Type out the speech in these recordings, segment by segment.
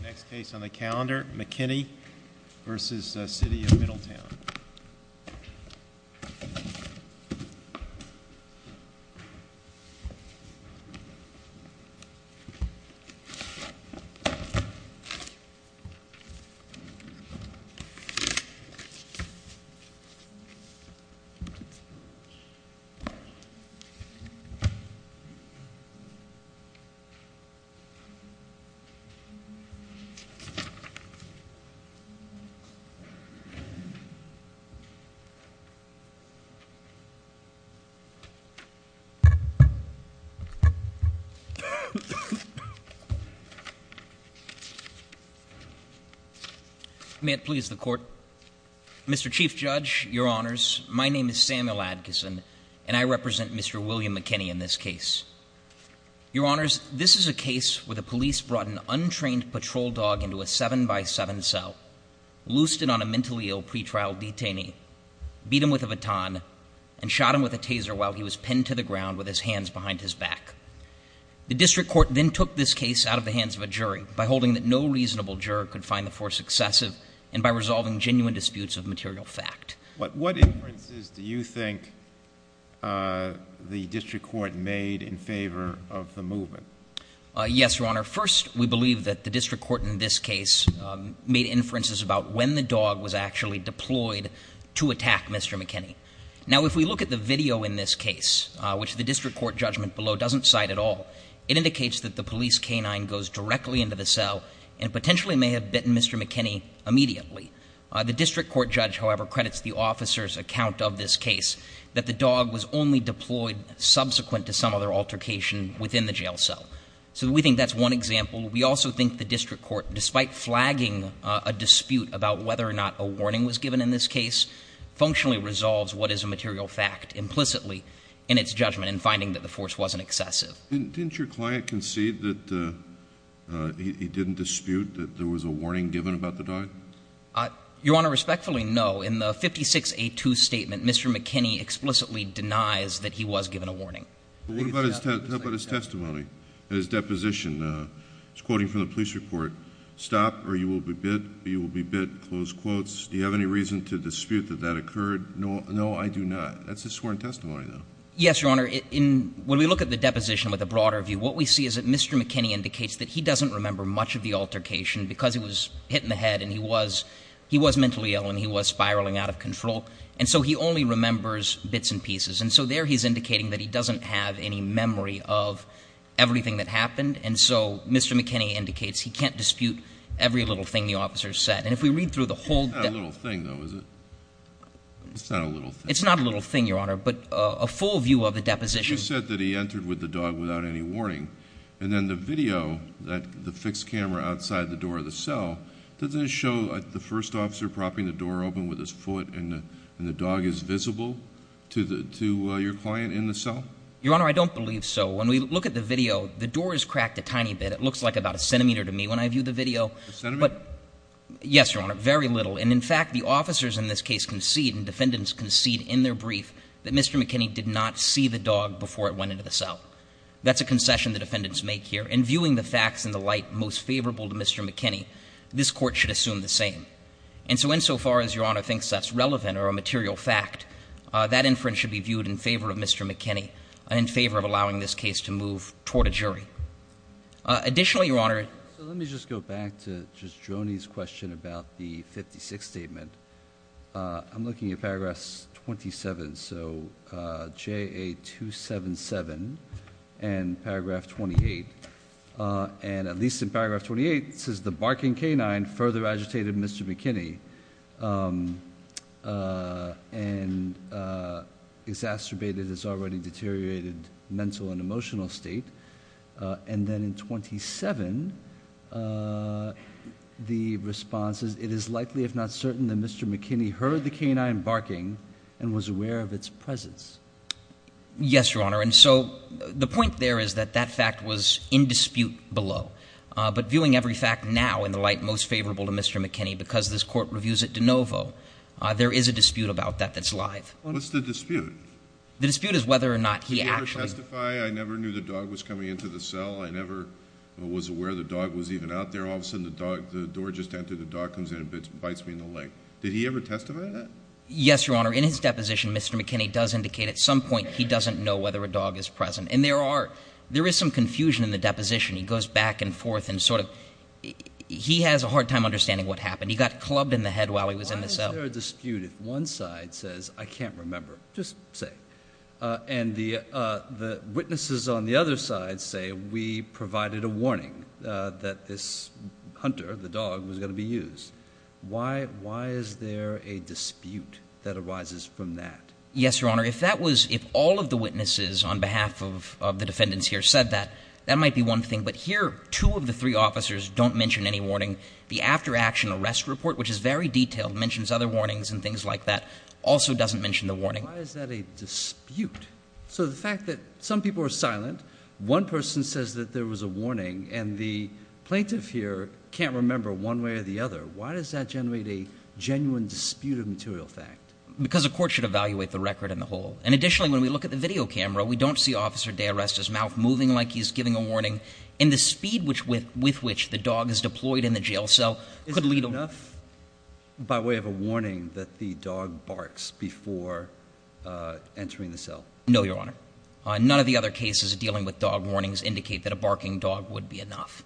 McKinney v. City of Middletown May it please the Court. Mr. Chief Judge, Your Honors, my name is Samuel Adkisson and I represent Mr. William McKinney in this case. Your Honors, this is a case where the police brought an untrained patrol dog into a 7x7 cell, loosed it on a mentally ill pre-trial detainee, beat him with a baton, and shot him with a taser while he was pinned to the ground with his hands behind his back. The District Court then took this case out of the hands of a jury by holding that no reasonable juror could find the force excessive and by resolving genuine disputes of material fact. What inferences do you think the District Court made in favor of the movement? Yes, Your Honor. First, we believe that the District Court in this case made inferences about when the dog was actually deployed to attack Mr. McKinney. Now, if we look at the video in this case, which the District Court judgment below doesn't cite at all, it indicates that the police canine goes directly into the cell and potentially may have bitten Mr. McKinney immediately. The District Court judge, however, credits the officer's account of this case that the dog was only deployed subsequent to some other altercation within the jail cell. So we think that's one example. We also think the District Court, despite flagging a dispute about whether or not a warning was given in this case, functionally resolves what is a material fact implicitly in its judgment in finding that the force wasn't excessive. Didn't your client concede that he didn't dispute that there was a warning given about the dog? Your Honor, respectfully, no. In the 56A2 statement, Mr. McKinney explicitly denies that he was given a warning. What about his testimony, his deposition? He's quoting from the police report, stop or you will be bit. You will be bit, close quotes. Do you have any reason to dispute that that occurred? No, I do not. That's a sworn testimony though. Yes, Your Honor. When we look at the deposition with a broader view, what we see is that Mr. McKinney indicates that he doesn't and he was mentally ill and he was spiraling out of control. And so he only remembers bits and pieces. And so there he's indicating that he doesn't have any memory of everything that happened. And so Mr. McKinney indicates he can't dispute every little thing the officer said. And if we read through the whole... It's not a little thing though, is it? It's not a little thing. It's not a little thing, Your Honor, but a full view of the deposition. You said that he entered with the dog without any warning. And then the video, the fixed camera outside the door of the cell, does it show the first officer propping the door open with his foot and the dog is visible to your client in the cell? Your Honor, I don't believe so. When we look at the video, the door is cracked a tiny bit. It looks like about a centimeter to me when I view the video. Yes, Your Honor, very little. And in fact, the officers in this case concede and defendants concede in their brief that Mr. McKinney did not see the dog before it went into the cell. That's a concession the defendants make here. And viewing the facts in the light most favorable to Mr. McKinney, this Court should assume the same. And so insofar as Your Honor thinks that's relevant or a material fact, that inference should be viewed in favor of Mr. McKinney and in favor of allowing this case to move toward a jury. Additionally, Your Honor... So let me just go back to just Droney's question about the 56 statement. I'm looking at paragraphs 27, so JA 277 and paragraph 28. And at least in paragraph 28, it says, the barking canine further agitated Mr. McKinney and exacerbated his already deteriorated mental and emotional state. And then in 27, the response is it is likely, if not certain, that Mr. McKinney heard the canine barking and was aware of its presence. Yes, Your Honor. And so the point there is that that fact was in dispute below. But viewing every fact now in the light most favorable to Mr. McKinney, because this Court reviews it de novo, there is a dispute about that that's live. What's the dispute? The dispute is whether or not he actually... Did he ever testify? I never knew the dog was coming into the cell. I never was aware the dog was even out there. All of a sudden, the door just entered, the dog comes in and bites me in the leg. Did he ever testify to that? Yes, Your Honor. In his deposition, Mr. McKinney does indicate at some point he doesn't know whether a dog is present. And there is some confusion in the deposition. He goes back and forth and sort of... He has a hard time understanding what happened. He got clubbed in the head while he was in the cell. Why is there a dispute if one side says, I can't remember, just say. And the witnesses on the other side say, we provided a warning that this hunter, the dog, was going to be used. Why is there a dispute that arises from that? Yes, Your Honor. If all of the witnesses on behalf of the defendants here said that, that might be one thing. But here, two of the three officers don't mention any warning. The after-action arrest report, which is very detailed, mentions other warnings and things like that, also doesn't mention the warning. Why is that a dispute? So the fact that some people are silent, one person says that there was a warning, and the plaintiff here can't remember one way or the other. Why does that generate a genuine dispute of material fact? Because a court should evaluate the record in the whole. And additionally, when we look at the video camera, we don't see Officer DeArest's mouth moving like he's giving a warning. And the speed with which the dog is deployed in the jail cell could lead... Is it enough by way of a warning that the dog barks before entering the cell? No, Your Honor. None of the other cases dealing with dog warnings indicate that a barking dog would be enough.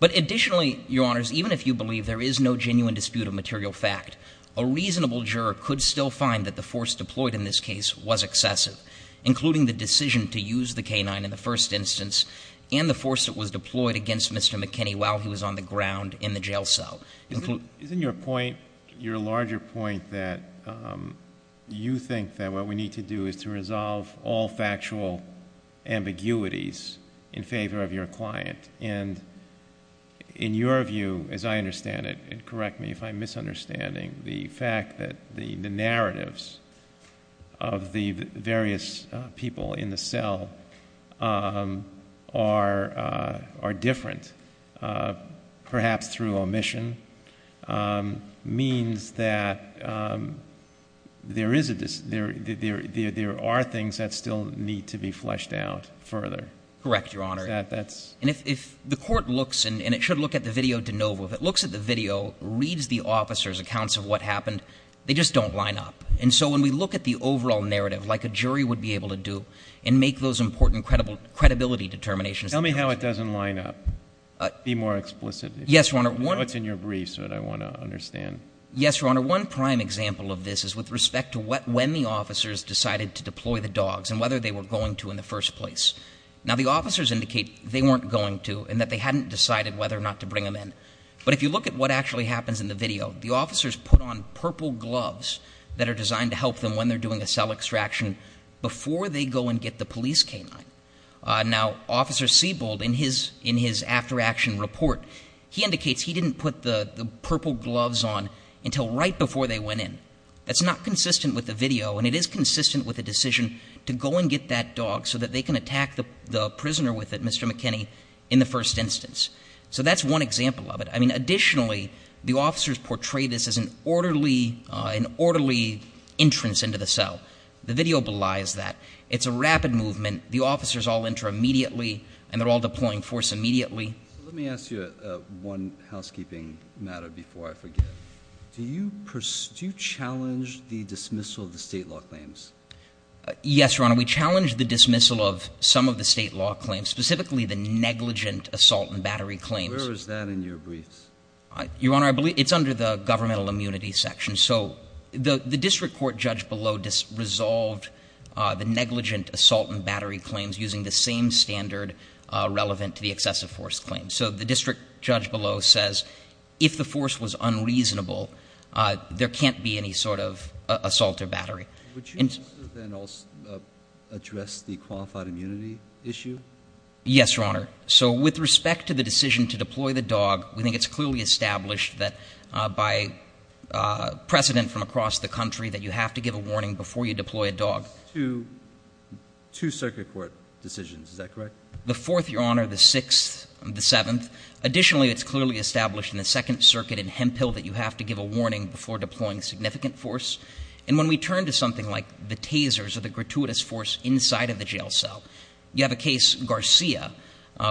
But additionally, Your Honors, even if you believe there is no genuine dispute of material fact, a reasonable juror could still find that the force deployed in this case was excessive, including the decision to use the canine in the first instance and the force that was deployed against Mr. McKinney while he was on the ground in the jail cell. Isn't your point, your larger point, that you think that what we need to do is to resolve all factual ambiguities in favor of your client? And in your view, as I understand it, correct me if I'm misunderstanding, the fact that the narratives of the various people in the cell are different, perhaps through omission, means that there are things that still need to be fleshed out further. Correct, Your Honor. And if the court looks, and it should look at the video de novo, if it looks at the video, reads the officer's accounts of what happened, they just don't line up. And so when we look at the overall narrative, like a jury would be able to do, and make those important credibility determinations. Tell me how it doesn't line up. Be more explicit. Yes, Your Honor. I know it's in your briefs, but I want to understand. Yes, Your Honor. One prime example of this is with respect to when the officers decided to deploy the dogs and whether they were going to in the first place. Now, the officers indicate they weren't going to and that they hadn't decided whether or not to bring them in. But if you look at what actually happens in the video, the officers put on purple gloves that are designed to help them when they're doing a cell extraction before they go and get the police canine. Now, Officer Siebold, in his after action report, he indicates he didn't put the purple gloves on until right before they went in. That's not consistent with the video, and it is consistent with the decision to go and get that dog so that they can attack the prisoner with it, Mr. McKinney, in the first instance. So that's one example of it. I mean, additionally, the officers portray this as an orderly entrance into the cell. The video belies that. It's a rapid movement. The officers all enter immediately, and they're all deploying force immediately. Let me ask you one housekeeping matter before I forget. Do you challenge the dismissal of the state law claims? Yes, Your Honor. We challenge the dismissal of some of the state law claims, specifically the negligent assault and battery claims. Where is that in your briefs? Your Honor, it's under the governmental immunity section. So the district court judge below resolved the negligent assault and battery claims using the same standard relevant to the excessive force claim. So the district judge below says if the force was unreasonable, there can't be any sort of assault or battery. Would you then also address the qualified immunity issue? Yes, Your Honor. So with respect to the decision to deploy the dog, we think it's clearly established that by precedent from across the country that you have to give a warning before you deploy a dog. Two circuit court decisions. Is that correct? The fourth, Your Honor, the sixth, the seventh. Additionally, it's clearly established in the Second Circuit in Hemphill that you have to give a warning before deploying significant force. And when we turn to something like the tasers or the gratuitous force inside of the jail cell, you have a case Garcia,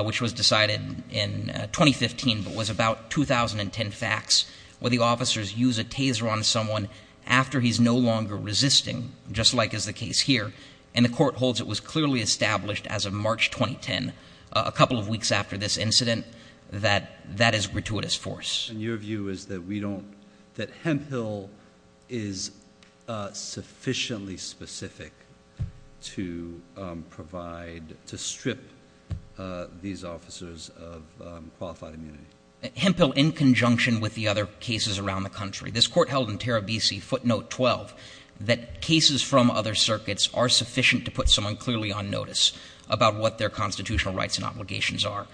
which was decided in 2015, but was about 2010 facts where the officers use a taser on someone after he's no longer resisting, just like is the case here. And the court holds it was clearly established as of March 2010, a couple of weeks after this incident, that that is gratuitous force. And your view is that we don't, that Hemphill is sufficiently specific to provide, to strip these officers of qualified immunity? Hemphill, in conjunction with the other cases around the country, this court held in Tarabisi, footnote 12, that cases from other circuits are sufficient to put someone clearly on notice about what their constitutional rights and obligations are.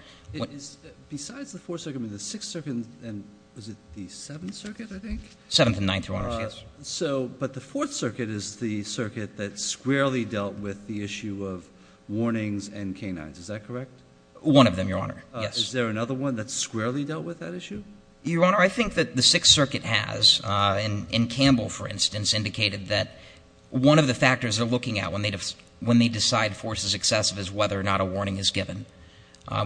Besides the Fourth Circuit, I mean, the Sixth Circuit and was it the Seventh Circuit, I think? Seventh and Ninth, Your Honor, yes. So, but the Fourth Circuit is the circuit that squarely dealt with the issue of warnings and canines, is that correct? One of them, Your Honor, yes. Is there another one that squarely dealt with that issue? Your Honor, I think that the Sixth Circuit has, in Campbell, for instance, indicated that one of the factors they're looking at when they decide force is excessive is whether or not a warning is given.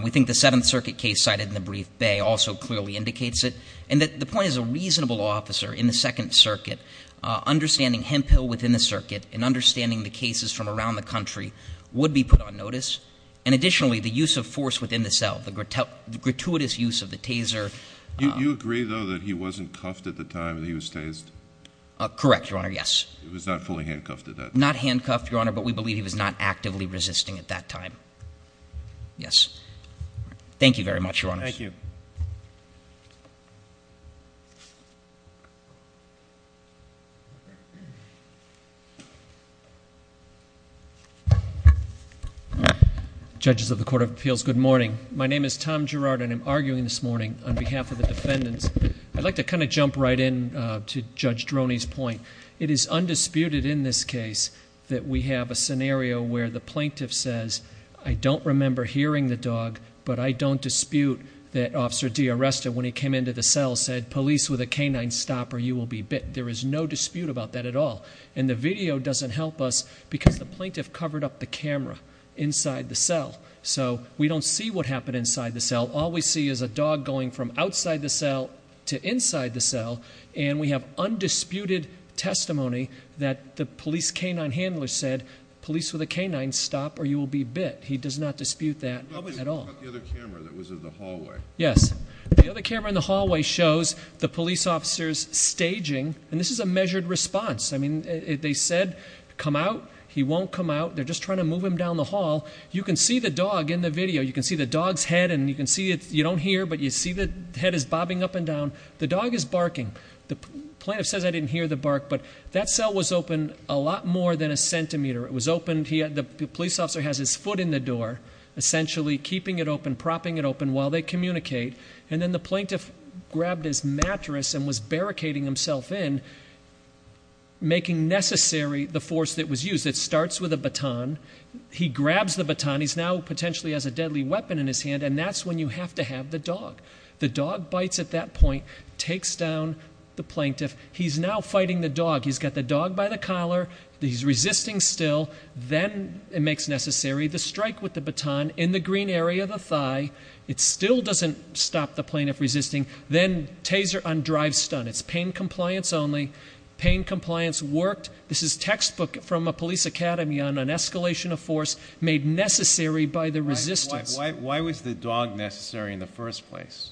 We think the Seventh Circuit case cited in the brief Bay also clearly indicates it. The point is a reasonable officer in the Second Circuit, understanding Hemphill within the circuit and understanding the cases from around the country would be put on notice. And additionally, the use of force within the cell, the gratuitous use of the taser. You agree, though, that he wasn't cuffed at the time that he was tased? Correct, Your Honor, yes. He was not fully handcuffed at that time? Not handcuffed, Your Honor, but we believe he was not actively resisting at that time. Yes. Thank you very much, Your Honors. Thank you. Thank you. Judges of the Court of Appeals, good morning. My name is Tom Gerard and I'm arguing this morning on behalf of the defendants. I'd like to kind of jump right in to Judge Droney's point. It is undisputed in this case that we have a scenario where the plaintiff says, I don't remember hearing the dog, but I don't dispute that Officer D'Arresta, when he came into the cell, said, police with a canine, stop or you will be bit. There is no dispute about that at all. And the video doesn't help us because the plaintiff covered up the camera inside the cell. So we don't see what happened inside the cell. All we see is a dog going from outside the cell to inside the cell. And we have undisputed testimony that the police canine handler said, police with a canine, stop or you will be bit. He does not dispute that at all. What about the other camera that was in the hallway? Yes. The other camera in the hallway shows the police officers staging, and this is a measured response. I mean, they said, come out. He won't come out. They're just trying to move him down the hall. You can see the dog in the video. You can see the dog's head, and you don't hear, but you see the head is bobbing up and down. The dog is barking. The plaintiff says I didn't hear the bark, but that cell was open a lot more than a centimeter. It was open, the police officer has his foot in the door. Essentially, keeping it open, propping it open while they communicate. And then the plaintiff grabbed his mattress and was barricading himself in, making necessary the force that was used. It starts with a baton. He grabs the baton. He's now potentially has a deadly weapon in his hand, and that's when you have to have the dog. The dog bites at that point, takes down the plaintiff. He's now fighting the dog. He's got the dog by the collar. He's resisting still. Then it makes necessary the strike with the baton in the green area of the thigh. It still doesn't stop the plaintiff resisting. Then taser on drive stun. It's pain compliance only. Pain compliance worked. This is textbook from a police academy on an escalation of force made necessary by the resistance. Why was the dog necessary in the first place?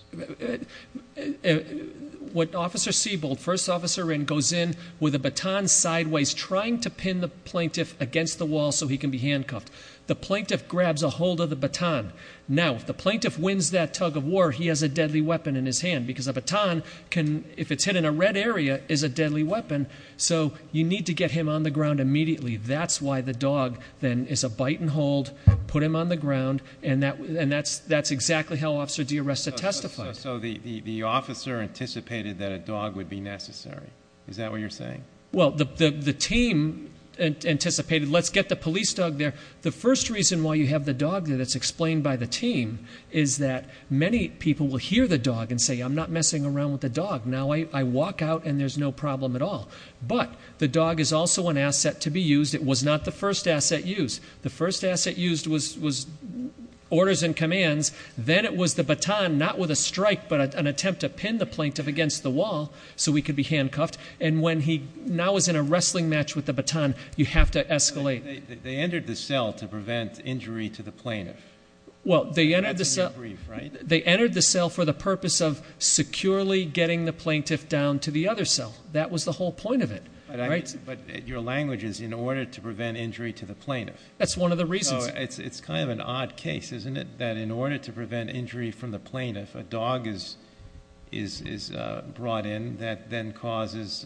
What Officer Seabold, first officer in, goes in with a baton sideways, trying to pin the plaintiff against the wall so he can be handcuffed. The plaintiff grabs a hold of the baton. Now, if the plaintiff wins that tug of war, he has a deadly weapon in his hand. Because a baton, if it's hit in a red area, is a deadly weapon. So you need to get him on the ground immediately. That's why the dog then is a bite and hold, put him on the ground. And that's exactly how Officer D'Arresta testified. So the officer anticipated that a dog would be necessary. Is that what you're saying? Well, the team anticipated, let's get the police dog there. The first reason why you have the dog there that's explained by the team is that many people will hear the dog and say, I'm not messing around with the dog. Now I walk out and there's no problem at all. But the dog is also an asset to be used. It was not the first asset used. The first asset used was orders and commands. Then it was the baton, not with a strike, but an attempt to pin the plaintiff against the wall so we could be handcuffed. And when he now is in a wrestling match with the baton, you have to escalate. They entered the cell to prevent injury to the plaintiff. Well, they entered the cell for the purpose of securely getting the plaintiff down to the other cell. That was the whole point of it, right? But your language is in order to prevent injury to the plaintiff. That's one of the reasons. It's kind of an odd case, isn't it? That in order to prevent injury from the plaintiff, a dog is brought in. That then causes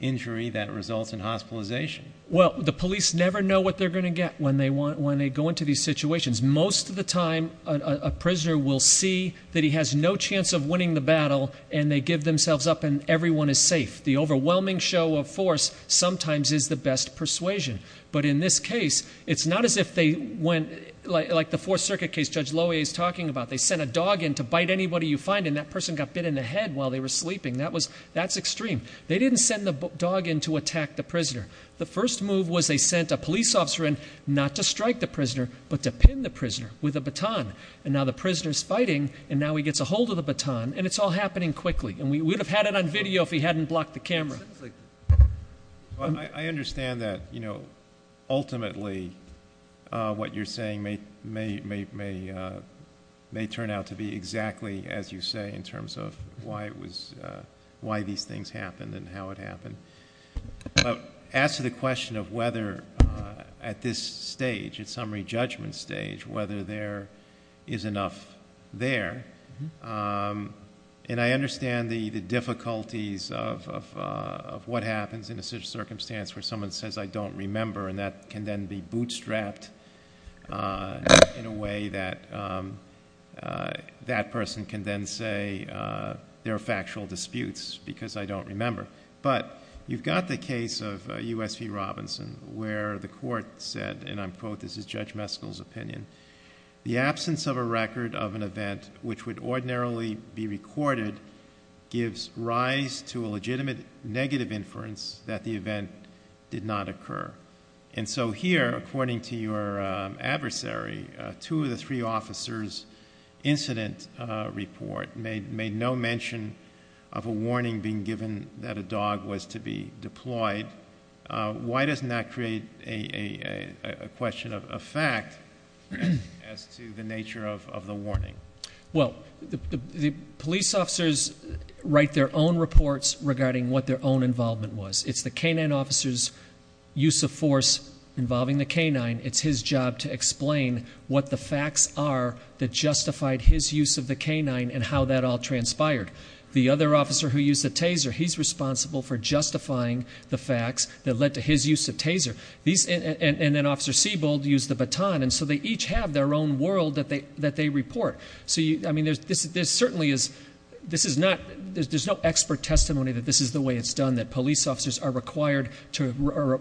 injury that results in hospitalization. Well, the police never know what they're going to get when they go into these situations. Most of the time, a prisoner will see that he has no chance of winning the battle, and they give themselves up and everyone is safe. The overwhelming show of force sometimes is the best persuasion. But in this case, it's not as if they went, like the Fourth Circuit case Judge Lowy is talking about. They sent a dog in to bite anybody you find, and that person got bit in the head while they were sleeping. That's extreme. They didn't send the dog in to attack the prisoner. The first move was they sent a police officer in, not to strike the prisoner, but to pin the prisoner with a baton. And now the prisoner's fighting, and now he gets a hold of the baton, and it's all happening quickly. And we would have had it on video if he hadn't blocked the camera. I understand that ultimately what you're saying may turn out to be exactly as you say in terms of why these things happened and how it happened. But as to the question of whether at this stage, at summary judgment stage, whether there is enough there. And I understand the difficulties of what happens in a certain circumstance where someone says I don't remember. And that can then be bootstrapped in a way that that person can then say there are factual disputes because I don't remember. But you've got the case of USP Robinson where the court said, and I quote, this is Judge Meskel's opinion. The absence of a record of an event which would ordinarily be recorded gives rise to a legitimate negative inference that the event did not occur. And so here, according to your adversary, two of the three officers incident report made no mention of a warning being given that a dog was to be deployed. Why doesn't that create a question of fact as to the nature of the warning? Well, the police officers write their own reports regarding what their own involvement was. It's the canine officer's use of force involving the canine. It's his job to explain what the facts are that justified his use of the canine and how that all transpired. The other officer who used the taser, he's responsible for justifying the facts that led to his use of taser. And then Officer Sebald used the baton, and so they each have their own world that they report. So there's no expert testimony that this is the way it's done, that police officers are required to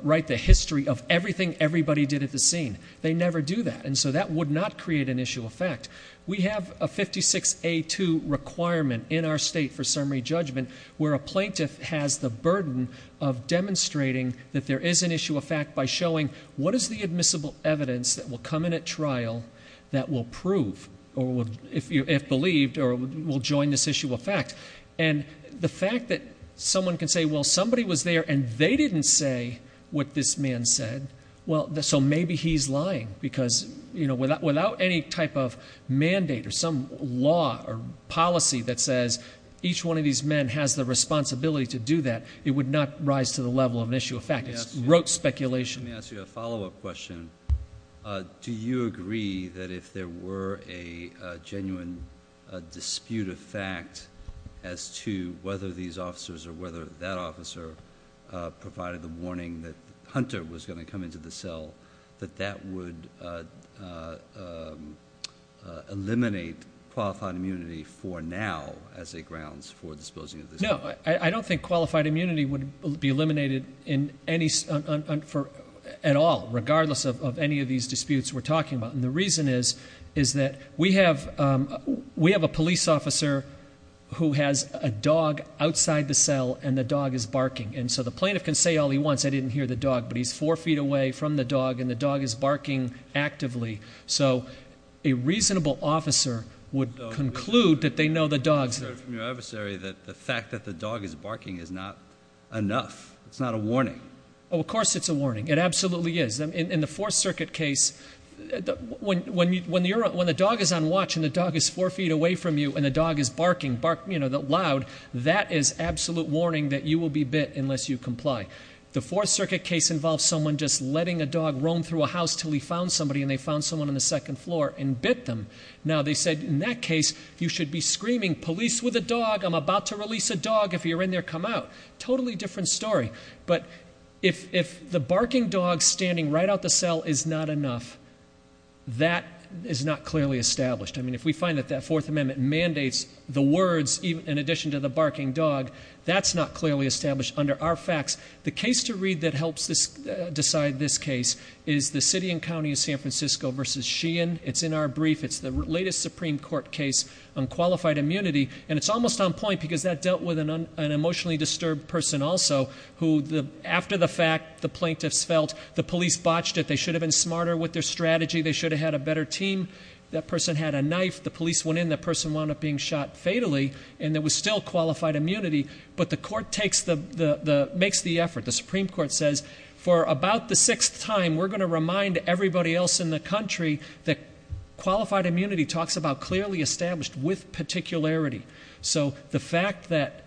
write the history of everything everybody did at the scene. They never do that, and so that would not create an issue of fact. We have a 56A2 requirement in our state for summary judgment, where a plaintiff has the burden of demonstrating that there is an issue of fact by showing what is the admissible evidence that will come in at trial that will prove, or if believed, or will join this issue of fact. And the fact that someone can say, well, somebody was there and they didn't say what this man said. Well, so maybe he's lying, because without any type of mandate or some law or policy that says each one of these men has the responsibility to do that, it would not rise to the level of an issue of fact, it's rote speculation. Let me ask you a follow up question. Do you agree that if there were a genuine dispute of fact as to whether these officers or whether that officer provided the warning that they were going to the cell, that that would eliminate qualified immunity for now as a grounds for disposing of the cell? No, I don't think qualified immunity would be eliminated at all, regardless of any of these disputes we're talking about. And the reason is that we have a police officer who has a dog outside the cell and the dog is barking. And so the plaintiff can say all he wants, I didn't hear the dog, but he's four feet away from the dog and the dog is barking actively. So a reasonable officer would conclude that they know the dog's- I've heard from your adversary that the fact that the dog is barking is not enough, it's not a warning. Of course it's a warning, it absolutely is. In the Fourth Circuit case, when the dog is on watch and the dog is four feet away from you and the dog is barking loud, that is absolute warning that you will be bit unless you comply. The Fourth Circuit case involves someone just letting a dog roam through a house until he found somebody and they found someone on the second floor and bit them. Now they said in that case, you should be screaming, police with a dog, I'm about to release a dog if you're in there, come out. Totally different story. But if the barking dog standing right out the cell is not enough, that is not clearly established. I mean, if we find that that Fourth Amendment mandates the words in addition to the barking dog, that's not clearly established under our facts. The case to read that helps decide this case is the city and county of San Francisco versus Sheehan. It's in our brief, it's the latest Supreme Court case on qualified immunity. And it's almost on point because that dealt with an emotionally disturbed person also, who after the fact the plaintiffs felt the police botched it, they should have been smarter with their strategy, they should have had a better team. That person had a knife, the police went in, that person wound up being shot fatally, and there was still qualified immunity. But the court makes the effort. The Supreme Court says, for about the sixth time, we're going to remind everybody else in the country that qualified immunity talks about clearly established with particularity. So the fact that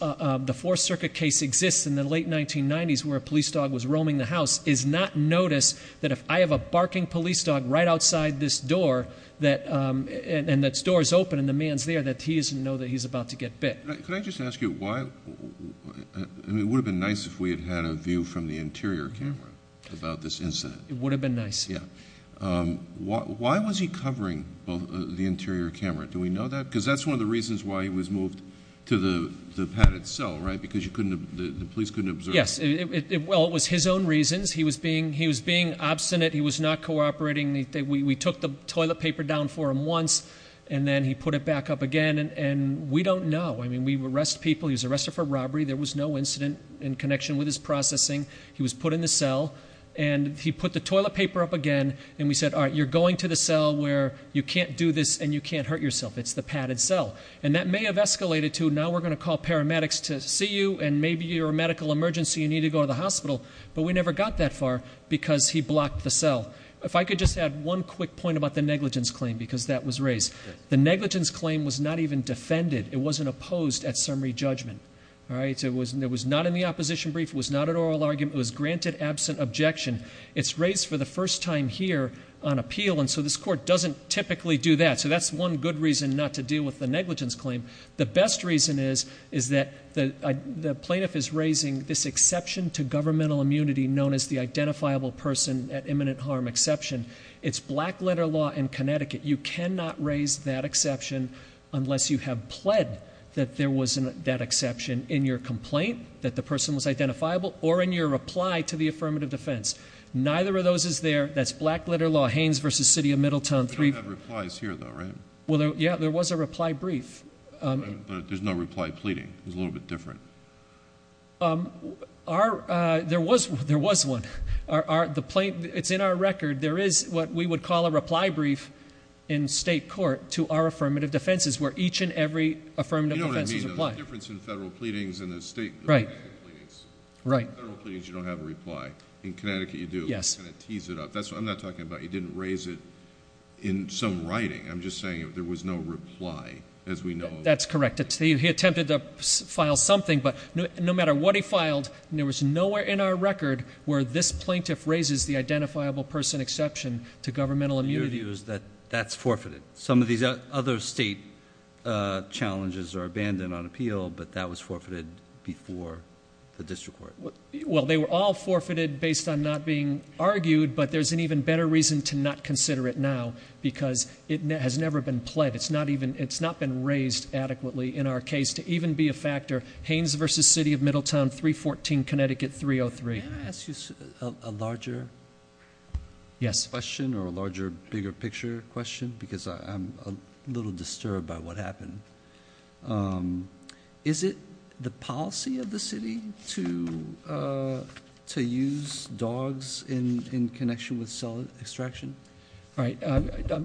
the Fourth Circuit case exists in the late 1990s where a police dog was roaming the house is not notice that if I have a barking police dog right outside this door, and that door's open and the man's there, that he doesn't know that he's about to get bit. Could I just ask you why, it would have been nice if we had had a view from the interior camera about this incident. It would have been nice. Yeah, why was he covering the interior camera? Do we know that? because that's one of the reasons why he was moved to the padded cell, right? Because the police couldn't observe. Yes, well it was his own reasons. He was being obstinate, he was not cooperating, we took the toilet paper down for him once. And then he put it back up again, and we don't know. I mean, we arrest people, he was arrested for robbery, there was no incident in connection with his processing. He was put in the cell, and he put the toilet paper up again, and we said, all right, you're going to the cell where you can't do this and you can't hurt yourself, it's the padded cell. And that may have escalated to, now we're going to call paramedics to see you, and maybe you're a medical emergency, you need to go to the hospital. But we never got that far, because he blocked the cell. If I could just add one quick point about the negligence claim, because that was raised. The negligence claim was not even defended, it wasn't opposed at summary judgment, all right? So it was not in the opposition brief, it was not an oral argument, it was granted absent objection. It's raised for the first time here on appeal, and so this court doesn't typically do that. So that's one good reason not to deal with the negligence claim. The best reason is that the plaintiff is raising this exception to governmental immunity known as the identifiable person at imminent harm exception. It's black letter law in Connecticut. You cannot raise that exception unless you have pled that there was that exception in your complaint, that the person was identifiable, or in your reply to the affirmative defense. Neither of those is there, that's black letter law, Haynes versus City of Middletown. We don't have replies here though, right? Well, yeah, there was a reply brief. There's no reply pleading, it was a little bit different. There was one, it's in our record. There is what we would call a reply brief in state court to our affirmative defenses, where each and every affirmative defense is applied. You know what I mean, the difference in federal pleadings and the state- Right. In federal pleadings, you don't have a reply. In Connecticut, you do. Yes. And it tees it up. I'm not talking about you didn't raise it in some writing. I'm just saying there was no reply, as we know. That's correct. He attempted to file something, but no matter what he filed, there was nowhere in our record where this plaintiff raises the identifiable person exception to governmental immunity. Your view is that that's forfeited. Some of these other state challenges are abandoned on appeal, but that was forfeited before the district court. Well, they were all forfeited based on not being argued, but there's an even better reason to not consider it now, because it has never been pled. It's not been raised adequately in our case to even be a factor. Haynes versus City of Middletown, 314 Connecticut, 303. May I ask you a larger question or a larger, bigger picture question, because I'm a little disturbed by what happened. Is it the policy of the city to use dogs in connection with cell extraction? All right.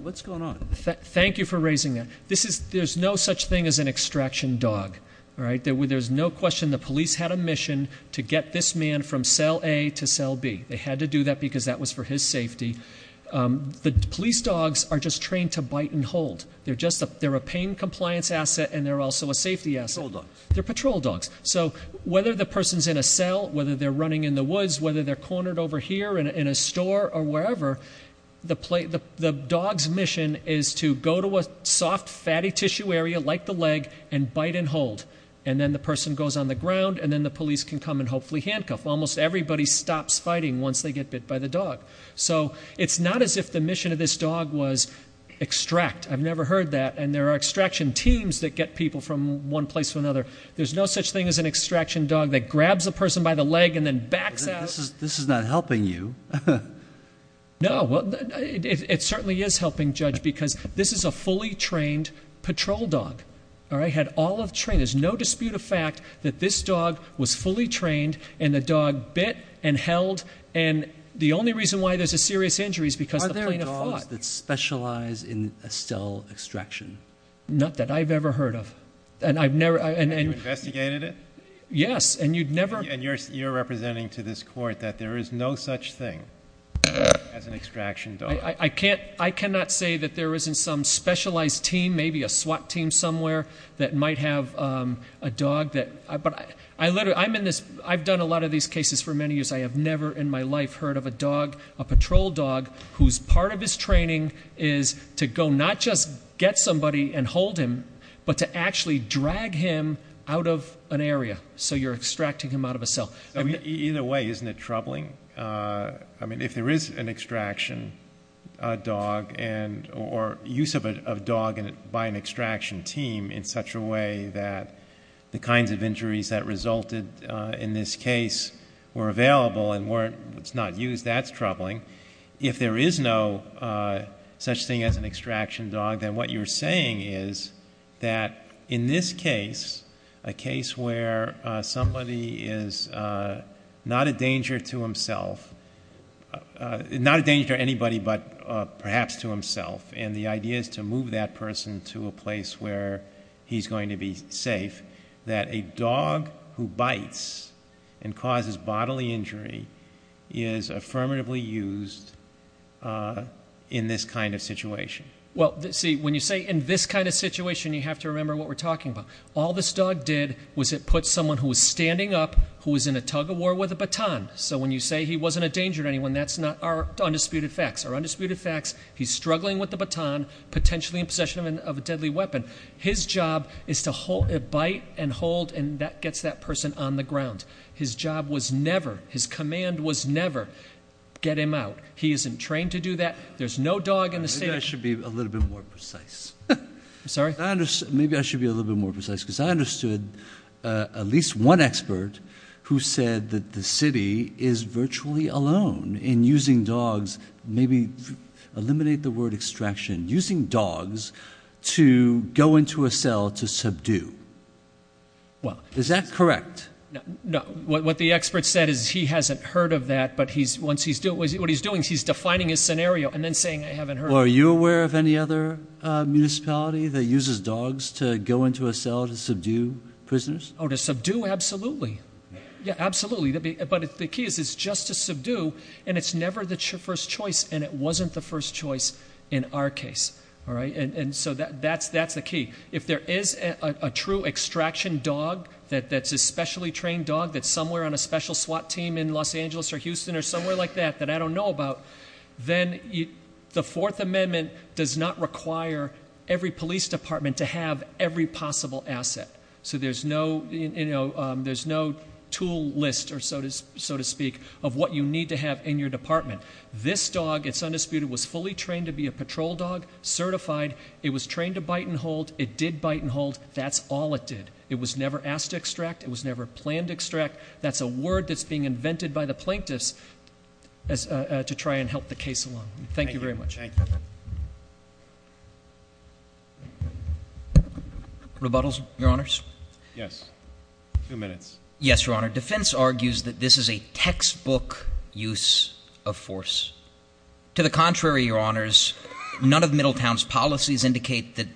What's going on? Thank you for raising that. There's no such thing as an extraction dog, all right? There's no question the police had a mission to get this man from cell A to cell B. They had to do that because that was for his safety. The police dogs are just trained to bite and hold. They're a pain compliance asset and they're also a safety asset. They're patrol dogs. So whether the person's in a cell, whether they're running in the woods, whether they're cornered over here in a store or wherever. The dog's mission is to go to a soft fatty tissue area like the leg and bite and hold. And then the person goes on the ground and then the police can come and hopefully handcuff. Almost everybody stops fighting once they get bit by the dog. So it's not as if the mission of this dog was extract. I've never heard that. And there are extraction teams that get people from one place to another. There's no such thing as an extraction dog that grabs a person by the leg and then backs out. This is not helping you. No, it certainly is helping, Judge, because this is a fully trained patrol dog, all right? Had all of trained. There's no dispute of fact that this dog was fully trained and the dog bit and held. And the only reason why there's a serious injury is because the plaintiff fought. Dogs that specialize in a still extraction. Not that I've ever heard of. And I've never- And you investigated it? Yes, and you'd never- And you're representing to this court that there is no such thing as an extraction dog. I cannot say that there isn't some specialized team, maybe a SWAT team somewhere that might have a dog that. But I've done a lot of these cases for many years. I have never in my life heard of a dog, a patrol dog, whose part of his training is to go not just get somebody and hold him, but to actually drag him out of an area. So you're extracting him out of a cell. Either way, isn't it troubling? I mean, if there is an extraction dog, or use of a dog by an extraction team in such a way that the kinds of injuries that resulted in this case were available and weren't, it's not used, that's troubling. If there is no such thing as an extraction dog, then what you're saying is that in this case, a case where somebody is not a danger to himself. Not a danger to anybody, but perhaps to himself. And the idea is to move that person to a place where he's going to be safe. That a dog who bites and causes bodily injury is affirmatively used in this kind of situation. Well, see, when you say in this kind of situation, you have to remember what we're talking about. All this dog did was it put someone who was standing up who was in a tug of war with a baton. So when you say he wasn't a danger to anyone, that's not our undisputed facts. Our undisputed facts, he's struggling with the baton, potentially in possession of a deadly weapon. His job is to bite and hold, and that gets that person on the ground. His job was never, his command was never, get him out. He isn't trained to do that. There's no dog in the state- Maybe I should be a little bit more precise. Sorry? Maybe I should be a little bit more precise, because I understood at least one expert who said that the city is virtually alone in using dogs, maybe eliminate the word extraction, using dogs to go into a cell to subdue. Well- Is that correct? No, what the expert said is he hasn't heard of that, but what he's doing is he's defining his scenario and then saying, I haven't heard of it. Well, are you aware of any other municipality that uses dogs to go into a cell to subdue prisoners? To subdue, absolutely. Yeah, absolutely, but the key is it's just to subdue, and it's never the first choice, and it wasn't the first choice in our case. All right, and so that's the key. If there is a true extraction dog that's a specially trained dog that's somewhere on a special SWAT team in Los Angeles or Houston or somewhere like that that I don't know about, then the Fourth Amendment does not require every police department to have every possible asset. So there's no tool list, so to speak, of what you need to have in your department. This dog, it's undisputed, was fully trained to be a patrol dog, certified. It was trained to bite and hold. It did bite and hold. That's all it did. It was never asked to extract. It was never planned to extract. That's a word that's being invented by the plaintiffs to try and help the case along. Thank you very much. Thank you. Rebuttals, your honors? Yes, two minutes. Yes, your honor. Defense argues that this is a textbook use of force. To the contrary, your honors, none of Middletown's policies indicate that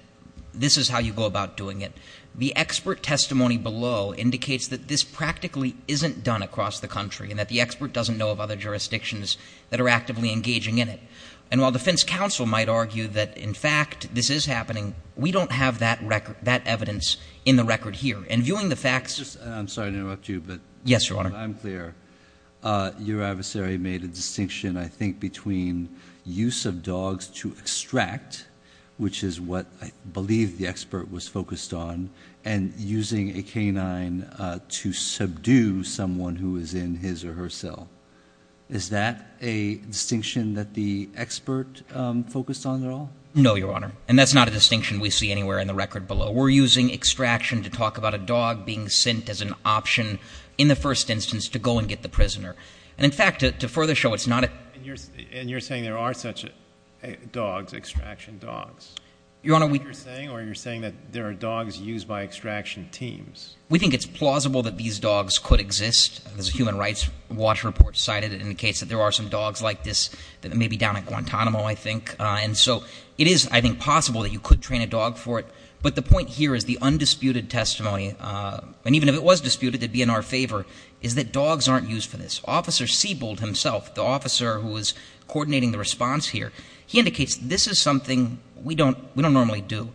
this is how you go about doing it. The expert testimony below indicates that this practically isn't done across the country and that the expert doesn't know of other jurisdictions that are actively engaging in it. And while defense counsel might argue that, in fact, this is happening, we don't have that evidence in the record here. And viewing the facts- I'm sorry to interrupt you, but- Yes, your honor. I'm clear. Your adversary made a distinction, I think, between use of dogs to extract, which is what I believe the expert was focused on, and using a canine to subdue someone who is in his or her cell. Is that a distinction that the expert focused on at all? No, your honor. And that's not a distinction we see anywhere in the record below. We're using extraction to talk about a dog being sent as an option in the first instance to go and get the prisoner. And in fact, to further show it's not a- And you're saying there are such dogs, extraction dogs? Your honor, we- Is that what you're saying, or you're saying that there are dogs used by extraction teams? We think it's plausible that these dogs could exist. There's a human rights watch report cited in the case that there are some dogs like this that may be down at Guantanamo, I think. And so, it is, I think, possible that you could train a dog for it. But the point here is the undisputed testimony, and even if it was disputed, it'd be in our favor, is that dogs aren't used for this. Officer Siebold himself, the officer who is coordinating the response here, he indicates this is something we don't normally do.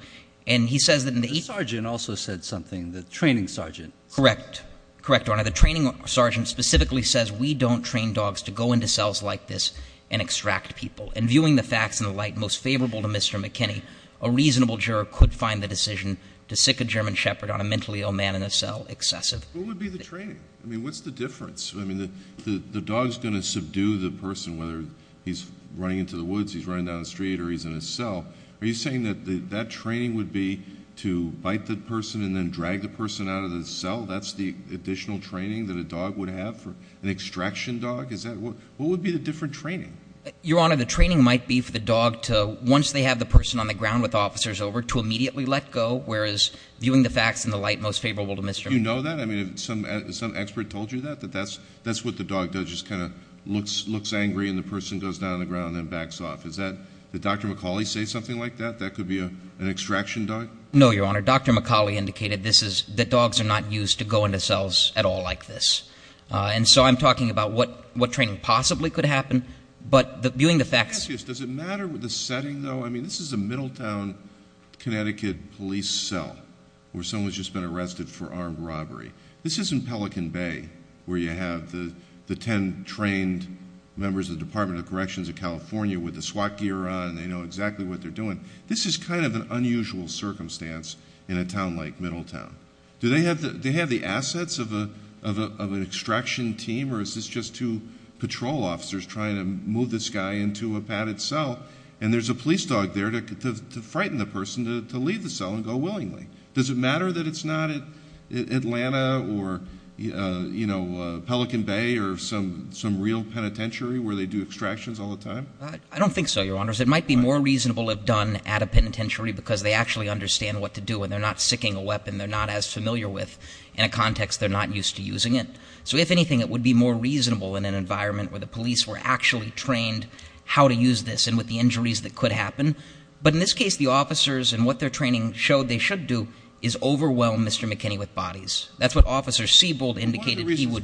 And he says that in the- The sergeant also said something, the training sergeant. Correct. Correct, your honor. The training sergeant specifically says we don't train dogs to go into cells like this and extract people. And viewing the facts in the light most favorable to Mr. McKinney, a reasonable juror could find the decision to sick a German Shepherd on a mentally ill man in a cell excessive- What would be the training? I mean, what's the difference? I mean, the dog's going to subdue the person, whether he's running into the woods, he's running down the street, or he's in a cell. Are you saying that that training would be to bite the person and then drag the person out of the cell? That's the additional training that a dog would have for an extraction dog? Is that, what would be the different training? Your honor, the training might be for the dog to, once they have the person on the ground with officers over, to immediately let go. Whereas, viewing the facts in the light most favorable to Mr. McKinney. You know that? I mean, some expert told you that? That that's what the dog does, just kind of looks angry and the person goes down on the ground and then backs off. Does that, did Dr. McCauley say something like that? That could be an extraction dog? No, your honor. Dr. McCauley indicated this is, that dogs are not used to go into cells at all like this. And so I'm talking about what training possibly could happen. But viewing the facts- Can I ask you, does it matter with the setting, though? I mean, this is a Middletown, Connecticut police cell, where someone's just been arrested for armed robbery. This isn't Pelican Bay, where you have the ten trained members of the Department of Corrections of California, with the SWAT gear on, they know exactly what they're doing. This is kind of an unusual circumstance in a town like Middletown. Do they have the assets of an extraction team, or is this just two patrol officers trying to move this guy into a padded cell? And there's a police dog there to frighten the person to leave the cell and go willingly. Does it matter that it's not Atlanta or Pelican Bay or some real penitentiary where they do extractions all the time? I don't think so, your honors. It might be more reasonable if done at a penitentiary because they actually understand what to do and they're not sticking a weapon they're not as familiar with in a context they're not used to using it. So if anything, it would be more reasonable in an environment where the police were actually trained how to use this and with the injuries that could happen. But in this case, the officers and what their training showed they should do is overwhelm Mr. McKinney with bodies. That's what Officer Sebald indicated he would-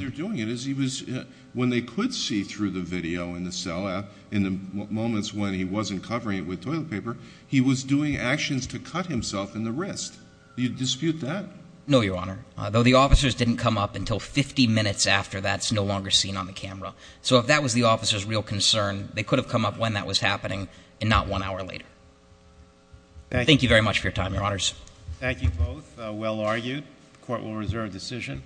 When they could see through the video in the cell app, in the moments when he wasn't covering it with toilet paper, he was doing actions to cut himself in the wrist. Do you dispute that? No, your honor. Though the officers didn't come up until 50 minutes after that's no longer seen on the camera. So if that was the officer's real concern, they could have come up when that was happening and not one hour later. Thank you very much for your time, your honors. Thank you both, well argued. Court will reserve decision.